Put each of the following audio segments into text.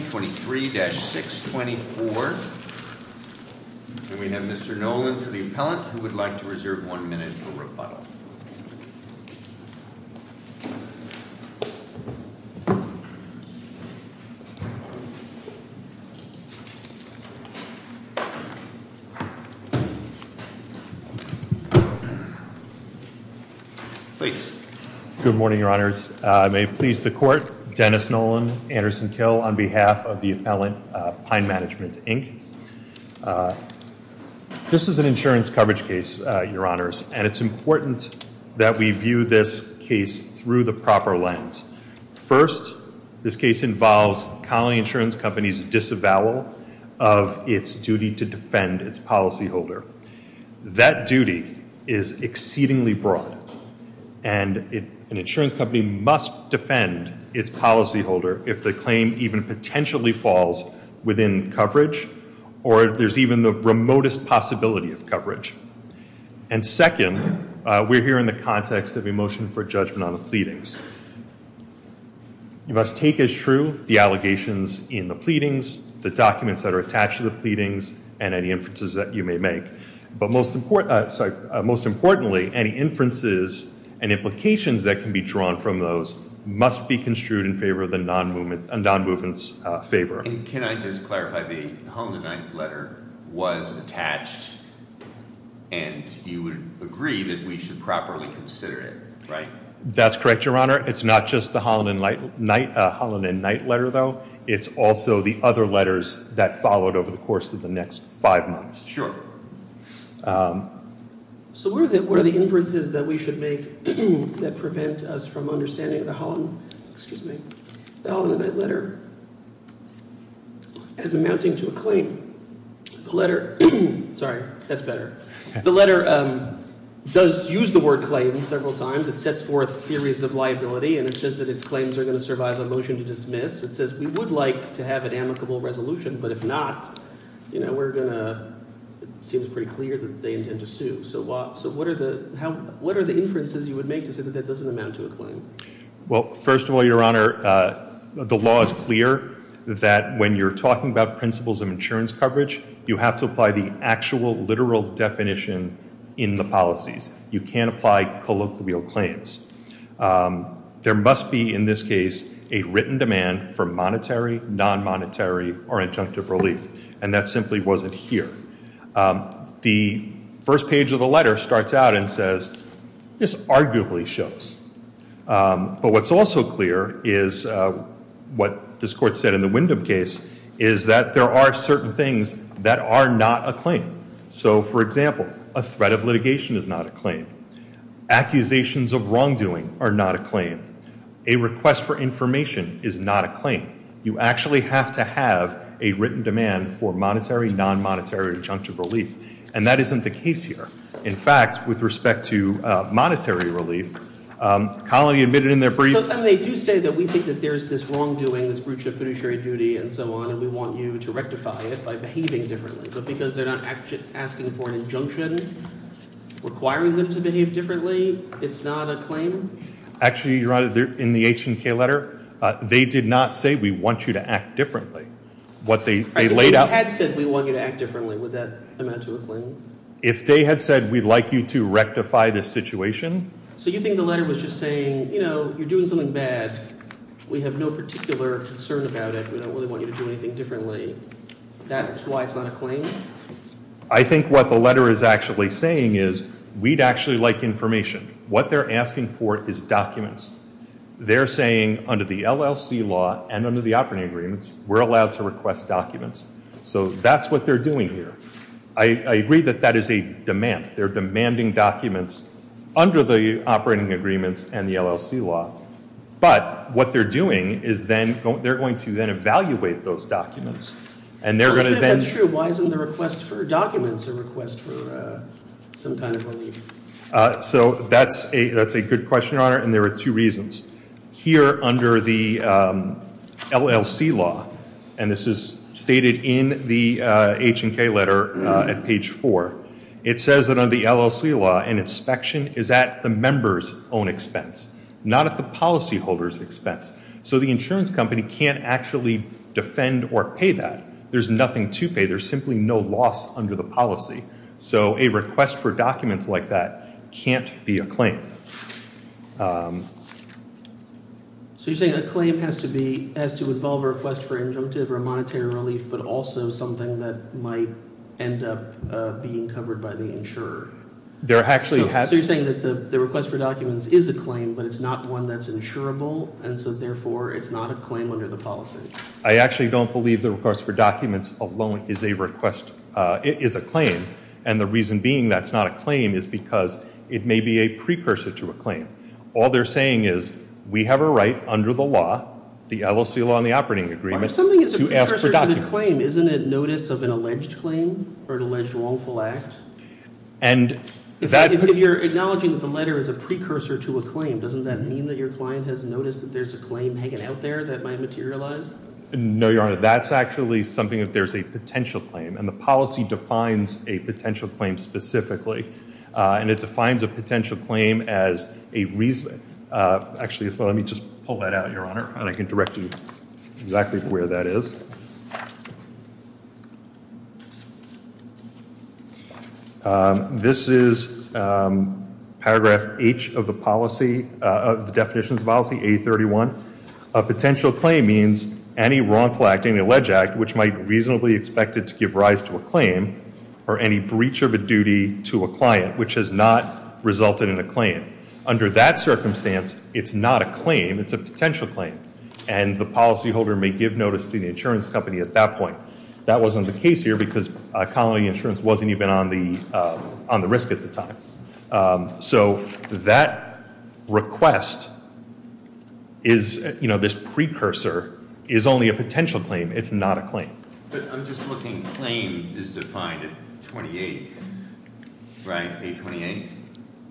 23-624. And we have Mr. Nolan for the appellant, who would like to reserve one minute for rebuttal. Please. Good morning, Your Honors. May it please the Court, Dennis Nolan, Anderson Kill, on behalf of the appellant, Pine Management, Inc. This is an insurance coverage case, Your Honors, and it's important that we view this case through the proper lens. First, this case involves Colony Insurance Company's disavowal of its duty to defend its policyholder. That duty is exceedingly broad, and an insurance company must defend its policyholder if the claim even potentially falls within coverage, or if there's even the remotest possibility of coverage. And second, we're here in the context of a motion for judgment on the pleadings. You must take as true the allegations in the pleadings, the documents that are attached to the pleadings, and any inferences that you may make. But most importantly, any inferences and implications that can be drawn from those must be construed in favor of the non-movement's favor. And can I just clarify, the home-denied letter was attached, and you would agree that we should properly consider it, right? That's correct, Your Honor. It's not just the Holland and Knight letter, though. It's also the other letters that followed over the course of the next five months. Sure. So what are the inferences that we should make that prevent us from understanding the Holland and Knight letter as amounting to a claim? The letter – sorry, that's better. The letter does use the word claim several times. It sets forth theories of liability, and it says that its claims are going to survive a motion to dismiss. It says we would like to have an amicable resolution, but if not, we're going to – it seems pretty clear that they intend to sue. So what are the inferences you would make to say that that doesn't amount to a claim? Well, first of all, Your Honor, the law is clear that when you're talking about principles of insurance coverage, you have to apply the actual literal definition in the policies. You can't apply colloquial claims. There must be, in this case, a written demand for monetary, non-monetary, or injunctive relief, and that simply wasn't here. The first page of the letter starts out and says this arguably shows. But what's also clear is what this Court said in the Wyndham case is that there are certain things that are not a claim. So, for example, a threat of litigation is not a claim. Accusations of wrongdoing are not a claim. A request for information is not a claim. You actually have to have a written demand for monetary, non-monetary, or injunctive relief, and that isn't the case here. In fact, with respect to monetary relief, Colony admitted in their brief – So then they do say that we think that there's this wrongdoing, this breach of fiduciary duty and so on, and we want you to rectify it by behaving differently. But because they're not asking for an injunction requiring them to behave differently, it's not a claim? Actually, Your Honor, in the H&K letter, they did not say we want you to act differently. What they laid out – If they had said we want you to act differently, would that amount to a claim? If they had said we'd like you to rectify this situation – So you think the letter was just saying you're doing something bad. We have no particular concern about it. We don't really want you to do anything differently. That's why it's not a claim? I think what the letter is actually saying is we'd actually like information. What they're asking for is documents. They're saying under the LLC law and under the operating agreements, we're allowed to request documents. So that's what they're doing here. I agree that that is a demand. They're demanding documents under the operating agreements and the LLC law. But what they're doing is they're going to then evaluate those documents, and they're going to then – I don't know if that's true. Why isn't the request for documents a request for some kind of relief? So that's a good question, Your Honor, and there are two reasons. Here under the LLC law, and this is stated in the H&K letter at page 4, it says that under the LLC law, an inspection is at the member's own expense, not at the policyholder's expense. So the insurance company can't actually defend or pay that. There's nothing to pay. There's simply no loss under the policy. So a request for documents like that can't be a claim. So you're saying a claim has to involve a request for injunctive or monetary relief, but also something that might end up being covered by the insurer? So you're saying that the request for documents is a claim, but it's not one that's insurable, and so therefore it's not a claim under the policy? I actually don't believe the request for documents alone is a claim, and the reason being that it's not a claim is because it may be a precursor to a claim. All they're saying is we have a right under the law, the LLC law and the operating agreement, to ask for documents. If something is a precursor to the claim, isn't it notice of an alleged claim or an alleged wrongful act? If you're acknowledging that the letter is a precursor to a claim, doesn't that mean that your client has noticed that there's a claim hanging out there that might materialize? No, Your Honor. That's actually something that there's a potential claim, and the policy defines a potential claim specifically, and it defines a potential claim as a reason. Actually, let me just pull that out, Your Honor, and I can direct you exactly to where that is. This is paragraph H of the policy, of the definitions of policy, A31. A potential claim means any wrongful act, any alleged act, which might reasonably expect it to give rise to a claim, or any breach of a duty to a client, which has not resulted in a claim. Under that circumstance, it's not a claim. It's a potential claim, and the policyholder may give notice to the insurance company at that point, but that wasn't the case here because Colony Insurance wasn't even on the risk at the time. So that request, this precursor, is only a potential claim. It's not a claim. But I'm just looking. Claim is defined at 28, right? Page 28?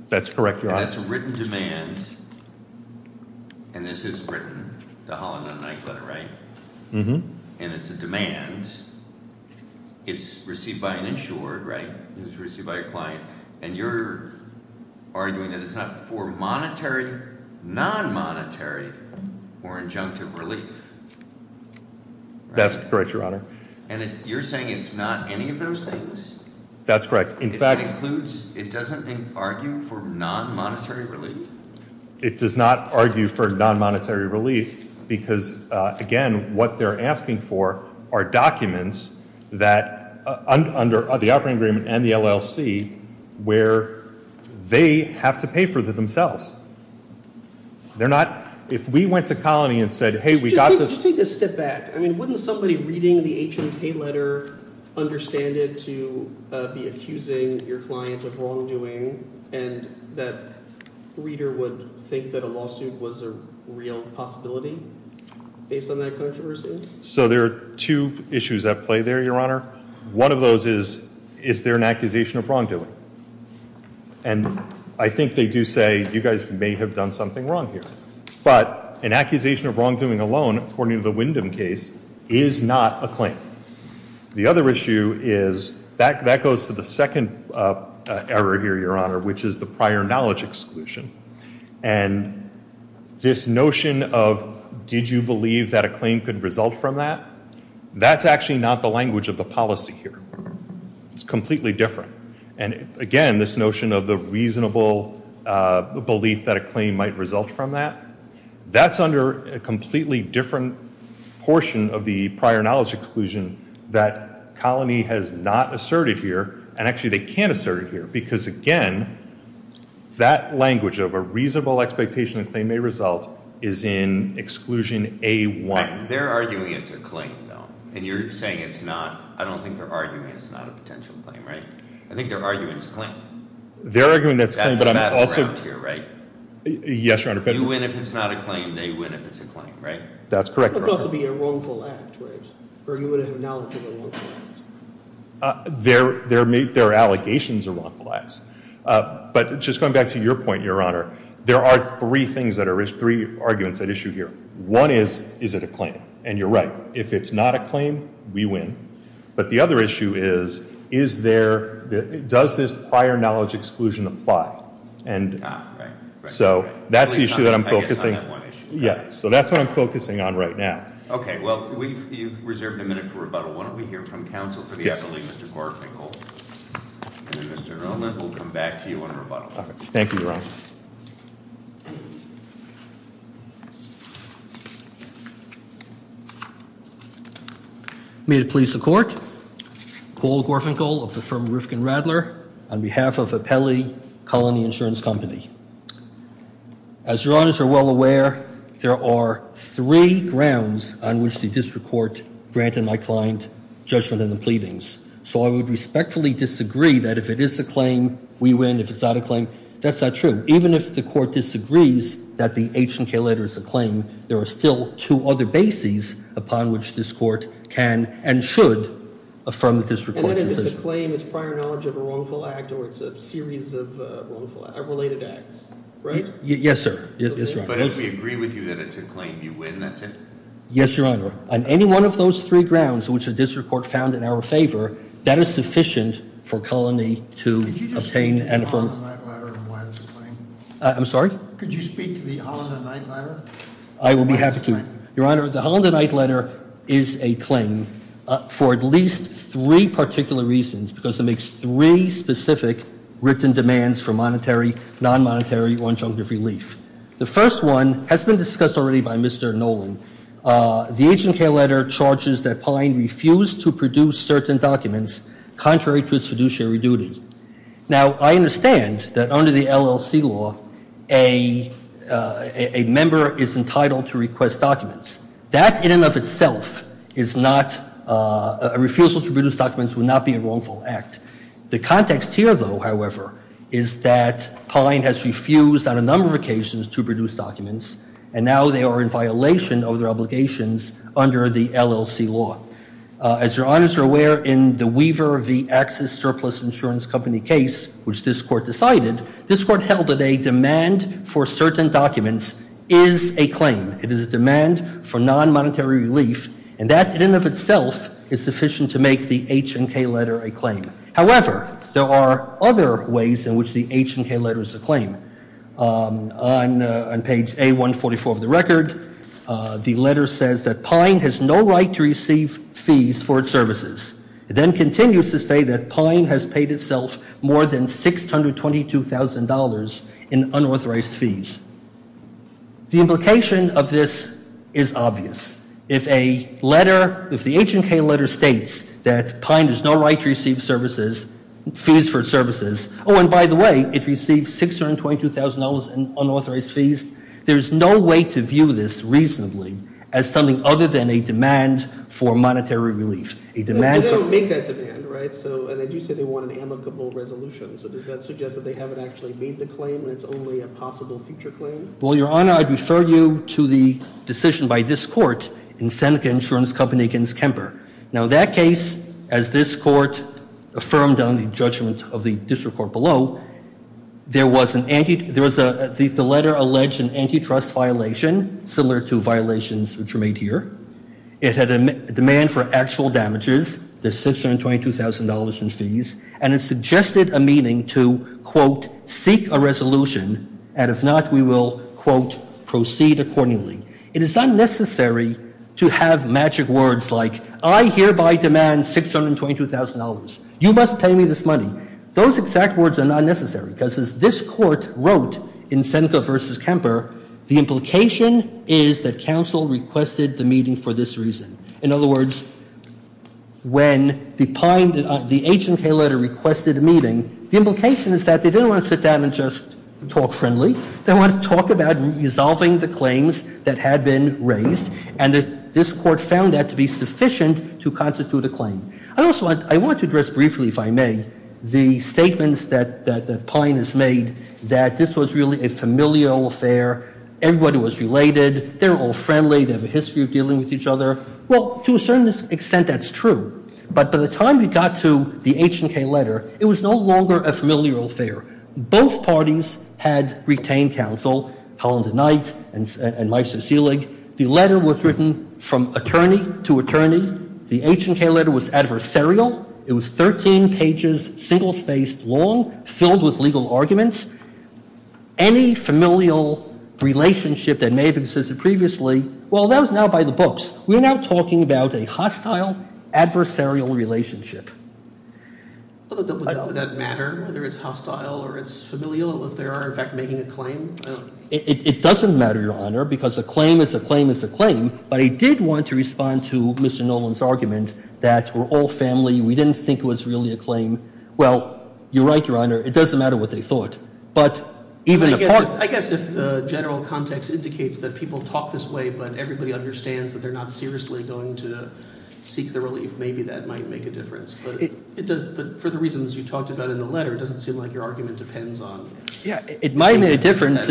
That's correct, Your Honor. And that's a written demand, and this is written, the Holland and Knight letter, right? Mm-hmm. And it's a demand. It's received by an insured, right? It's received by a client, and you're arguing that it's not for monetary, non-monetary, or injunctive relief. That's correct, Your Honor. And you're saying it's not any of those things? That's correct. In fact, it includes, it doesn't argue for non-monetary relief? It does not argue for non-monetary relief because, again, what they're asking for are documents that, under the operating agreement and the LLC, where they have to pay for themselves. They're not, if we went to Colony and said, hey, we got this. Just take a step back. I mean, wouldn't somebody reading the H&K letter understand it to be accusing your client of wrongdoing and that reader would think that a lawsuit was a real possibility based on that controversy? So there are two issues at play there, Your Honor. One of those is, is there an accusation of wrongdoing? And I think they do say, you guys may have done something wrong here. But an accusation of wrongdoing alone, according to the Wyndham case, is not a claim. The other issue is, that goes to the second error here, Your Honor, which is the prior knowledge exclusion. And this notion of, did you believe that a claim could result from that? That's actually not the language of the policy here. It's completely different. And, again, this notion of the reasonable belief that a claim might result from that, that's under a completely different portion of the prior knowledge exclusion that Colony has not asserted here. And, actually, they can assert it here. Because, again, that language of a reasonable expectation that a claim may result is in Exclusion A-1. They're arguing it's a claim, though. And you're saying it's not. I don't think they're arguing it's not a potential claim, right? I think they're arguing it's a claim. They're arguing that's a claim, but I'm also – That's the battleground here, right? Yes, Your Honor. You win if it's not a claim. They win if it's a claim, right? That's correct, Your Honor. It could also be a wrongful act, right? Or you would acknowledge it's a wrongful act. Their allegations are wrongful acts. But just going back to your point, Your Honor, there are three things that are – three arguments at issue here. One is, is it a claim? And you're right. If it's not a claim, we win. But the other issue is, is there – does this prior knowledge exclusion apply? Ah, right. So that's the issue that I'm focusing – I guess on that one issue. Yeah. So that's what I'm focusing on right now. Well, you've reserved a minute for rebuttal. Why don't we hear from counsel for the appellee, Mr. Gorfinkel? Yes, please. And then, Mr. Irwin, we'll come back to you on rebuttal. Okay. Thank you, Your Honor. May it please the Court. Paul Gorfinkel of the firm Rifkin-Radler on behalf of Appellee Colony Insurance Company. As Your Honors are well aware, there are three grounds on which the district court granted my client judgment in the pleadings. So I would respectfully disagree that if it is a claim, we win. If it's not a claim, that's not true. Even if the court disagrees that the H&K letter is a claim, there are still two other bases upon which this court can and should affirm the district court's decision. And if it's a claim, it's prior knowledge of a wrongful act or it's a series of related acts, right? Yes, sir. Yes, Your Honor. But if we agree with you that it's a claim, you win, that's it? Yes, Your Honor. On any one of those three grounds which the district court found in our favor, that is sufficient for Colony to obtain and affirm – Could you just speak to the Holland and Knight letter and why it's a claim? I'm sorry? Could you speak to the Holland and Knight letter? I will be happy to. Your Honor, the Holland and Knight letter is a claim for at least three particular reasons because it makes three specific written demands for monetary, non-monetary, or injunctive relief. The first one has been discussed already by Mr. Nolan. The H&K letter charges that Pine refused to produce certain documents contrary to his fiduciary duty. Now, I understand that under the LLC law, a member is entitled to request documents. That in and of itself is not – a refusal to produce documents would not be a wrongful act. The context here, though, however, is that Pine has refused on a number of occasions to produce documents and now they are in violation of their obligations under the LLC law. As Your Honors are aware, in the Weaver v. Axis Surplus Insurance Company case, which this Court decided, this Court held that a demand for certain documents is a claim. It is a demand for non-monetary relief, and that in and of itself is sufficient to make the H&K letter a claim. However, there are other ways in which the H&K letter is a claim. On page A144 of the record, the letter says that Pine has no right to receive fees for its services. It then continues to say that Pine has paid itself more than $622,000 in unauthorized fees. The implication of this is obvious. If a letter – if the H&K letter states that Pine has no right to receive services – fees for its services – oh, and by the way, it received $622,000 in unauthorized fees. There is no way to view this reasonably as something other than a demand for monetary relief. A demand for – Well, they don't make that demand, right? So – and they do say they want an amicable resolution, so does that suggest that they haven't actually made the claim and it's only a possible future claim? Well, Your Honor, I'd refer you to the decision by this Court in Seneca Insurance Company v. Kemper. Now, that case, as this Court affirmed on the judgment of the district court below, there was an – there was a – the letter alleged an antitrust violation, similar to violations which were made here. It had a demand for actual damages, the $622,000 in fees, and it suggested a meaning to, quote, seek a resolution, and if not, we will, quote, proceed accordingly. It is unnecessary to have magic words like, I hereby demand $622,000. You must pay me this money. Those exact words are not necessary, because as this Court wrote in Seneca v. Kemper, the implication is that counsel requested the meeting for this reason. In other words, when the H&K letter requested a meeting, the implication is that they didn't want to sit down and just talk friendly. They wanted to talk about resolving the claims that had been raised, and this Court found that to be sufficient to constitute a claim. I also want – I want to address briefly, if I may, the statements that Pine has made that this was really a familial affair, everybody was related, they were all friendly, they have a history of dealing with each other. Well, to a certain extent, that's true, but by the time we got to the H&K letter, it was no longer a familial affair. Both parties had retained counsel, Helen DeKnight and Meister Selig. The letter was written from attorney to attorney. The H&K letter was adversarial. It was 13 pages, single-spaced long, filled with legal arguments. Any familial relationship that may have existed previously, well, that was now by the books. We're now talking about a hostile adversarial relationship. Would that matter, whether it's hostile or it's familial, if they are, in fact, making a claim? It doesn't matter, Your Honor, because a claim is a claim is a claim, but I did want to respond to Mr. Nolan's argument that we're all family, we didn't think it was really a claim. Well, you're right, Your Honor, it doesn't matter what they thought. But even a part – I guess if the general context indicates that people talk this way but everybody understands that they're not seriously going to seek the relief, maybe that might make a difference. But for the reasons you talked about in the letter, it doesn't seem like your argument depends on – Yeah, it might make a difference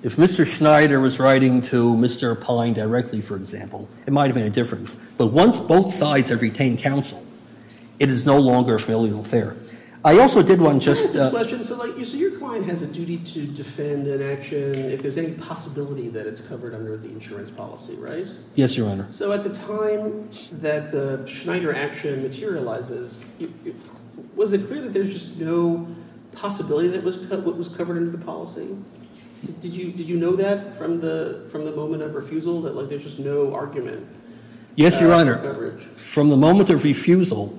if Mr. Schneider was writing to Mr. Pine directly, for example. It might have made a difference. But once both sides have retained counsel, it is no longer a familial affair. I also did want to just – I'm curious about this question. So your client has a duty to defend an action if there's any possibility that it's covered under the insurance policy, right? Yes, Your Honor. So at the time that the Schneider action materializes, was it clear that there's just no possibility that it was covered under the policy? Did you know that from the moment of refusal, that there's just no argument? Yes, Your Honor. From the moment of refusal,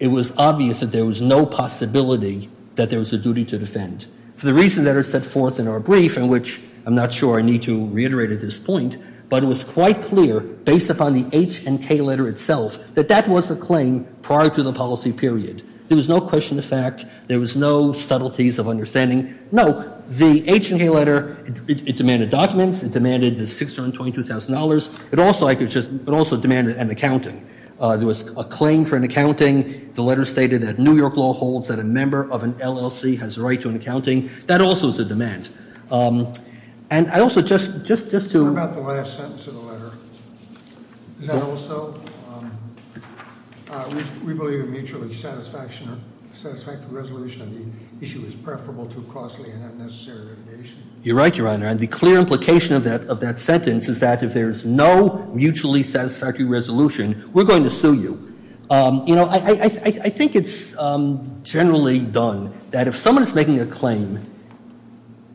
it was obvious that there was no possibility that there was a duty to defend. For the reasons that are set forth in our brief, in which I'm not sure I need to reiterate at this point, but it was quite clear based upon the H&K letter itself that that was a claim prior to the policy period. There was no question of fact. There was no subtleties of understanding. No, the H&K letter, it demanded documents. It demanded the $622,000. It also demanded an accounting. There was a claim for an accounting. The letter stated that New York law holds that a member of an LLC has a right to an accounting. That also is a demand. And I also, just to- What about the last sentence of the letter? Is that also, we believe a mutually satisfactory resolution of the issue is preferable to costly and unnecessary litigation? You're right, Your Honor. And the clear implication of that sentence is that if there's no mutually satisfactory resolution, we're going to sue you. I think it's generally done that if someone is making a claim,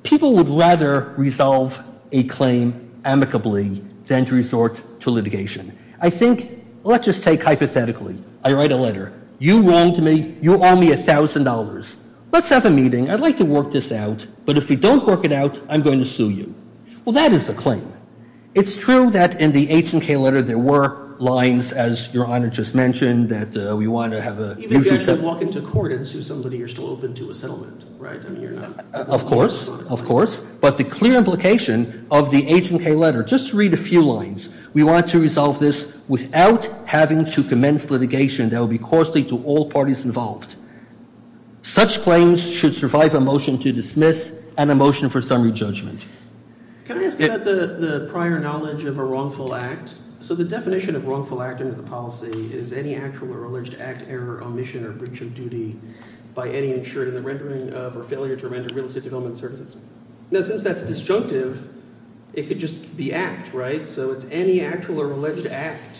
people would rather resolve a claim amicably than to resort to litigation. I think, let's just take hypothetically. I write a letter. You wronged me. You owe me $1,000. Let's have a meeting. I'd like to work this out. But if we don't work it out, I'm going to sue you. Well, that is a claim. It's true that in the H&K letter there were lines, as Your Honor just mentioned, that we want to have a mutually- Even if you guys walk into court and sue somebody, you're still open to a settlement, right? I mean, you're not- Of course. Of course. But the clear implication of the H&K letter, just read a few lines. We want to resolve this without having to commence litigation that would be costly to all parties involved. Such claims should survive a motion to dismiss and a motion for summary judgment. Can I ask about the prior knowledge of a wrongful act? So the definition of wrongful act under the policy is any actual or alleged act, error, omission, or breach of duty by any insured in the rendering of or failure to render real estate development services. Now, since that's disjunctive, it could just be act, right? So it's any actual or alleged act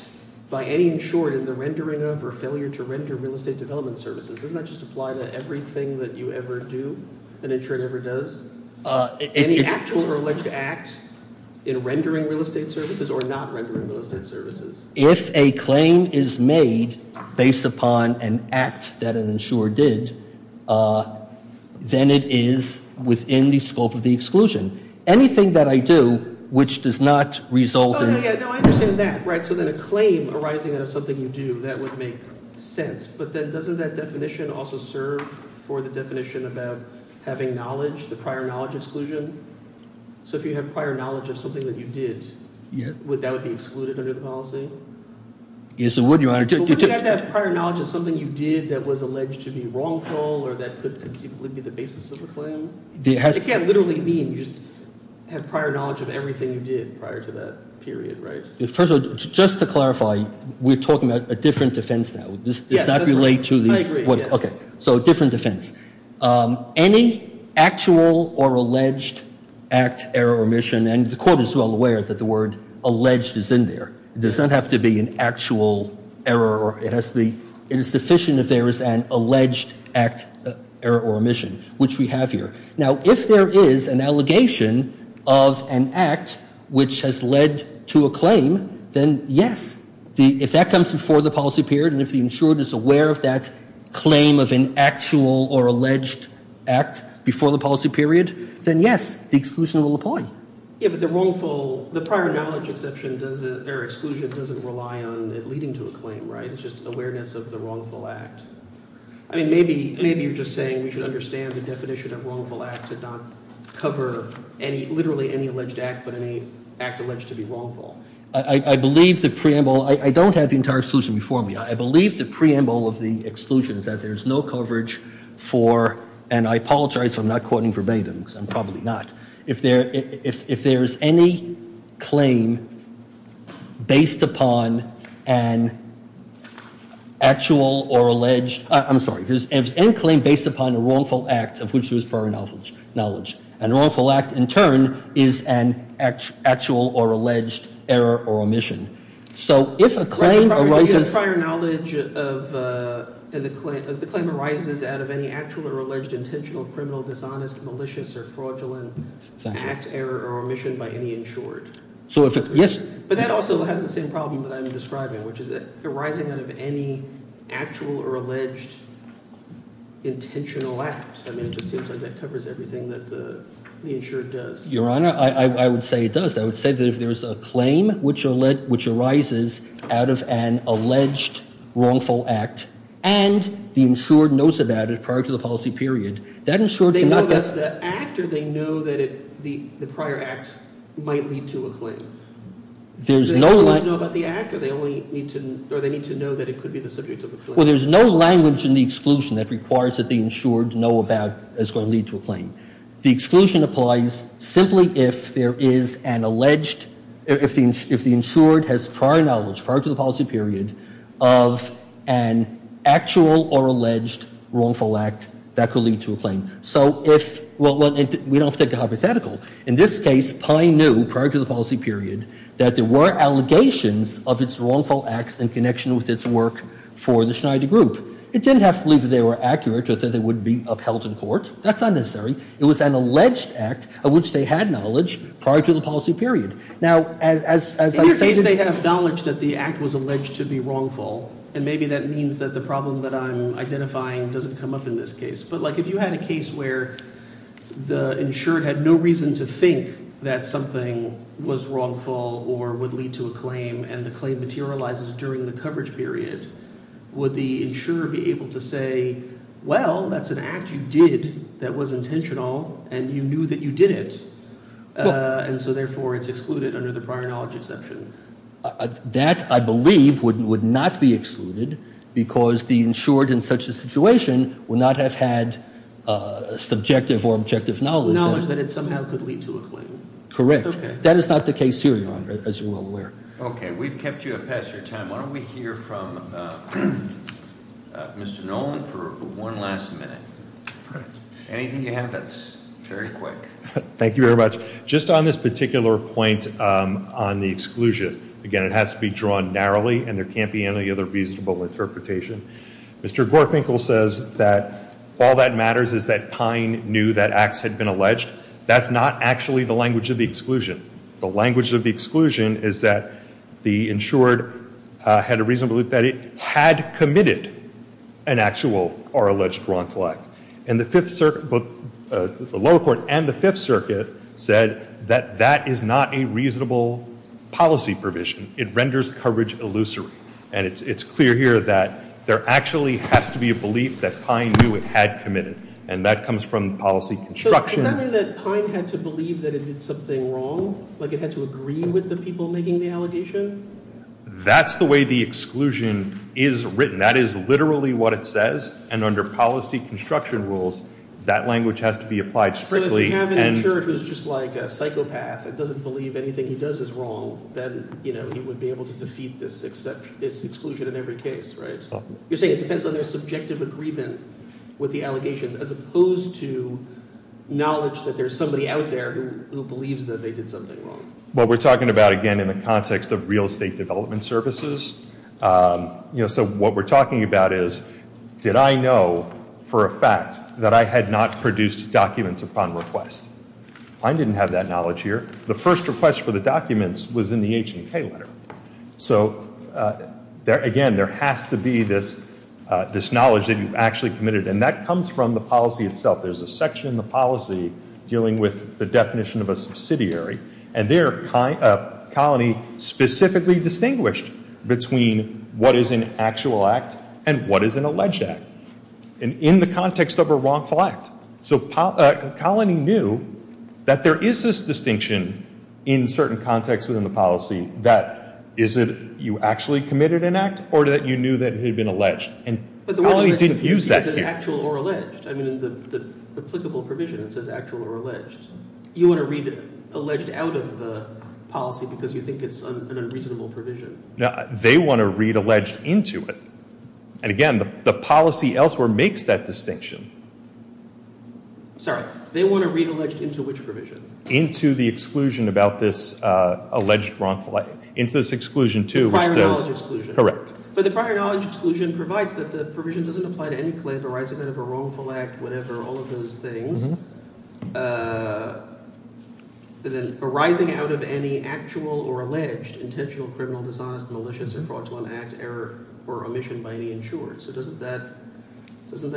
by any insured in the rendering of or failure to render real estate development services. Doesn't that just apply to everything that you ever do, an insured ever does? Any actual or alleged act in rendering real estate services or not rendering real estate services? If a claim is made based upon an act that an insurer did, then it is within the scope of the exclusion. Anything that I do which does not result in- Oh, yeah, yeah. No, I understand that, right? So then a claim arising out of something you do, that would make sense. But then doesn't that definition also serve for the definition about having knowledge, the prior knowledge exclusion? So if you have prior knowledge of something that you did, that would be excluded under the policy? Yes, it would, Your Honor. But wouldn't you have to have prior knowledge of something you did that was alleged to be wrongful or that could conceivably be the basis of a claim? It can't literally mean you have prior knowledge of everything you did prior to that period, right? First of all, just to clarify, we're talking about a different defense now. This does not relate to the- I agree, yes. Okay, so a different defense. Any actual or alleged act, error, or omission, and the Court is well aware that the word alleged is in there. It does not have to be an actual error. It is sufficient if there is an alleged act, error, or omission, which we have here. Now, if there is an allegation of an act which has led to a claim, then yes. If that comes before the policy period and if the insured is aware of that claim of an actual or alleged act before the policy period, then yes, the exclusion will apply. Yeah, but the wrongful-the prior knowledge exception or exclusion doesn't rely on it leading to a claim, right? It's just awareness of the wrongful act. I mean, maybe you're just saying we should understand the definition of wrongful act to not cover literally any alleged act but any act alleged to be wrongful. I believe the preamble-I don't have the entire exclusion before me. I believe the preamble of the exclusion is that there's no coverage for-and I apologize if I'm not quoting verbatim because I'm probably not. If there's any claim based upon an actual or alleged-I'm sorry. If there's any claim based upon a wrongful act of which there is prior knowledge, a wrongful act in turn is an actual or alleged error or omission. So if a claim arises- Prior knowledge of-the claim arises out of any actual or alleged intentional, criminal, dishonest, malicious, or fraudulent act, error, or omission by any insured. So if-yes? But that also has the same problem that I'm describing, which is arising out of any actual or alleged intentional act. I mean, it just seems like that covers everything that the insured does. Your Honor, I would say it does. I would say that if there's a claim which arises out of an alleged wrongful act and the insured knows about it prior to the policy period, that insured cannot- They know that's the act or they know that the prior act might lead to a claim. There's no- They only need to know about the act or they only need to-or they need to know that it could be the subject of a claim. Well, there's no language in the exclusion that requires that the insured know about is going to lead to a claim. The exclusion applies simply if there is an alleged-if the insured has prior knowledge prior to the policy period of an actual or alleged wrongful act that could lead to a claim. So if-well, we don't have to take a hypothetical. In this case, Pye knew prior to the policy period that there were allegations of its wrongful acts in connection with its work for the Schneider Group. It didn't have to be that they were accurate or that they would be upheld in court. That's unnecessary. It was an alleged act of which they had knowledge prior to the policy period. Now, as I said- In this case, they have knowledge that the act was alleged to be wrongful, and maybe that means that the problem that I'm identifying doesn't come up in this case. But, like, if you had a case where the insured had no reason to think that something was wrongful or would lead to a claim and the claim materializes during the coverage period, would the insurer be able to say, well, that's an act you did that was intentional and you knew that you did it, and so therefore it's excluded under the prior knowledge exception? That, I believe, would not be excluded because the insured in such a situation would not have had subjective or objective knowledge. Knowledge that it somehow could lead to a claim. Correct. That is not the case here, Your Honor, as you're well aware. Okay. We've kept you up past your time. Why don't we hear from Mr. Nolan for one last minute. Anything you have that's very quick. Thank you very much. So, just on this particular point on the exclusion, again, it has to be drawn narrowly and there can't be any other reasonable interpretation. Mr. Gorfinkel says that all that matters is that Pine knew that acts had been alleged. That's not actually the language of the exclusion. The language of the exclusion is that the insured had a reasonable belief that it had committed an actual or alleged wrongful act. And the Fifth Circuit, both the lower court and the Fifth Circuit, said that that is not a reasonable policy provision. It renders coverage illusory. And it's clear here that there actually has to be a belief that Pine knew it had committed. And that comes from the policy construction. So, does that mean that Pine had to believe that it did something wrong? Like it had to agree with the people making the allegation? That's the way the exclusion is written. That is literally what it says. And under policy construction rules, that language has to be applied strictly. So, if you have an insured who's just like a psychopath and doesn't believe anything he does is wrong, then he would be able to defeat this exclusion in every case, right? You're saying it depends on their subjective agreement with the allegations as opposed to knowledge that there's somebody out there who believes that they did something wrong. Well, we're talking about, again, in the context of real estate development services. So, what we're talking about is, did I know for a fact that I had not produced documents upon request? Pine didn't have that knowledge here. The first request for the documents was in the H&K letter. So, again, there has to be this knowledge that you've actually committed. And that comes from the policy itself. There's a section in the policy dealing with the definition of a subsidiary. And there, Colony specifically distinguished between what is an actual act and what is an alleged act in the context of a wrongful act. So, Colony knew that there is this distinction in certain contexts within the policy that is it you actually committed an act or that you knew that it had been alleged. And Colony didn't use that here. I mean, in the applicable provision, it says actual or alleged. You want to read alleged out of the policy because you think it's an unreasonable provision. They want to read alleged into it. And, again, the policy elsewhere makes that distinction. Sorry. They want to read alleged into which provision? Into the exclusion about this alleged wrongful act. The prior knowledge exclusion. Correct. The provision doesn't apply to any claim arising out of a wrongful act, whatever, all of those things arising out of any actual or alleged intentional, criminal, dishonest, malicious, or fraudulent act, error, or omission by any insured. So doesn't that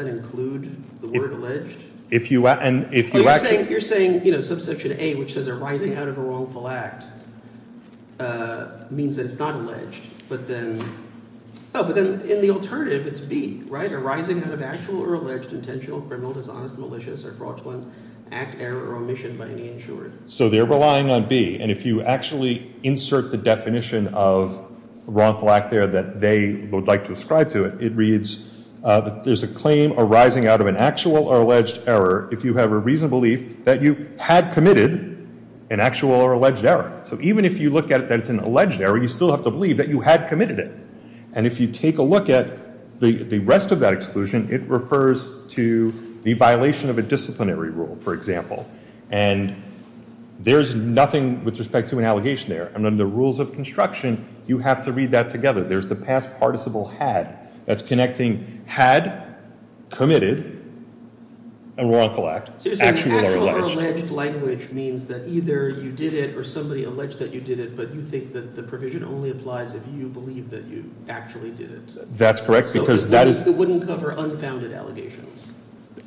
include the word alleged? You're saying, you know, subsection A, which says arising out of a wrongful act, means that it's not alleged. But then in the alternative, it's B, right? Arising out of actual or alleged intentional, criminal, dishonest, malicious, or fraudulent act, error, or omission by any insured. So they're relying on B. And if you actually insert the definition of wrongful act there that they would like to ascribe to it, it reads that there's a claim arising out of an actual or alleged error if you have a reasonable belief that you had committed an actual or alleged error. So even if you look at it that it's an alleged error, you still have to believe that you had committed it. And if you take a look at the rest of that exclusion, it refers to the violation of a disciplinary rule, for example. And there's nothing with respect to an allegation there. And under rules of construction, you have to read that together. There's the past participle had. That's connecting had, committed, and wrongful act, actual or alleged. Alleged language means that either you did it or somebody alleged that you did it, but you think that the provision only applies if you believe that you actually did it. That's correct, because that is. It wouldn't cover unfounded allegations.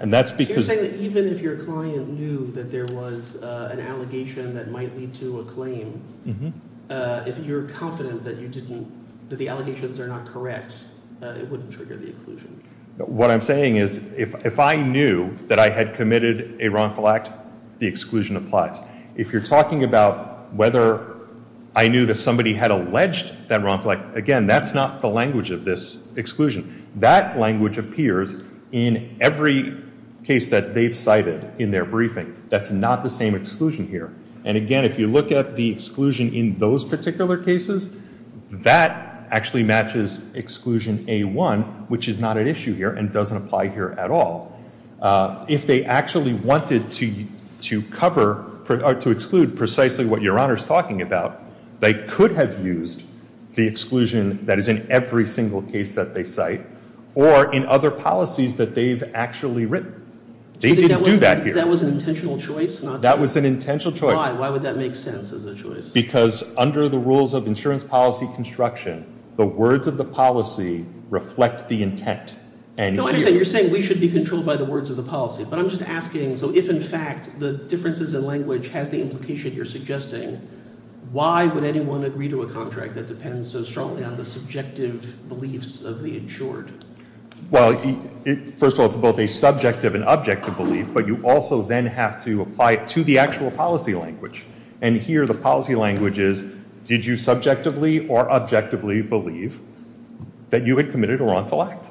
And that's because. You're saying that even if your client knew that there was an allegation that might lead to a claim, if you're confident that you didn't, that the allegations are not correct, it wouldn't trigger the exclusion. What I'm saying is if I knew that I had committed a wrongful act, the exclusion applies. If you're talking about whether I knew that somebody had alleged that wrongful act, again, that's not the language of this exclusion. That language appears in every case that they've cited in their briefing. That's not the same exclusion here. And, again, if you look at the exclusion in those particular cases, that actually matches exclusion A1, which is not at issue here and doesn't apply here at all. If they actually wanted to cover or to exclude precisely what Your Honor is talking about, they could have used the exclusion that is in every single case that they cite or in other policies that they've actually written. They didn't do that here. That was an intentional choice? That was an intentional choice. Why? Why would that make sense as a choice? Because under the rules of insurance policy construction, the words of the policy reflect the intent. No, I understand. You're saying we should be controlled by the words of the policy. But I'm just asking, so if, in fact, the differences in language has the implication you're suggesting, why would anyone agree to a contract that depends so strongly on the subjective beliefs of the insured? Well, first of all, it's both a subjective and objective belief, but you also then have to apply it to the actual policy language. And here the policy language is, did you subjectively or objectively believe that you had committed a wrongful act?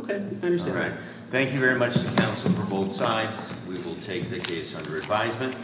Okay, I understand. All right. Thank you very much to counsel for both sides. We will take the case under advisement.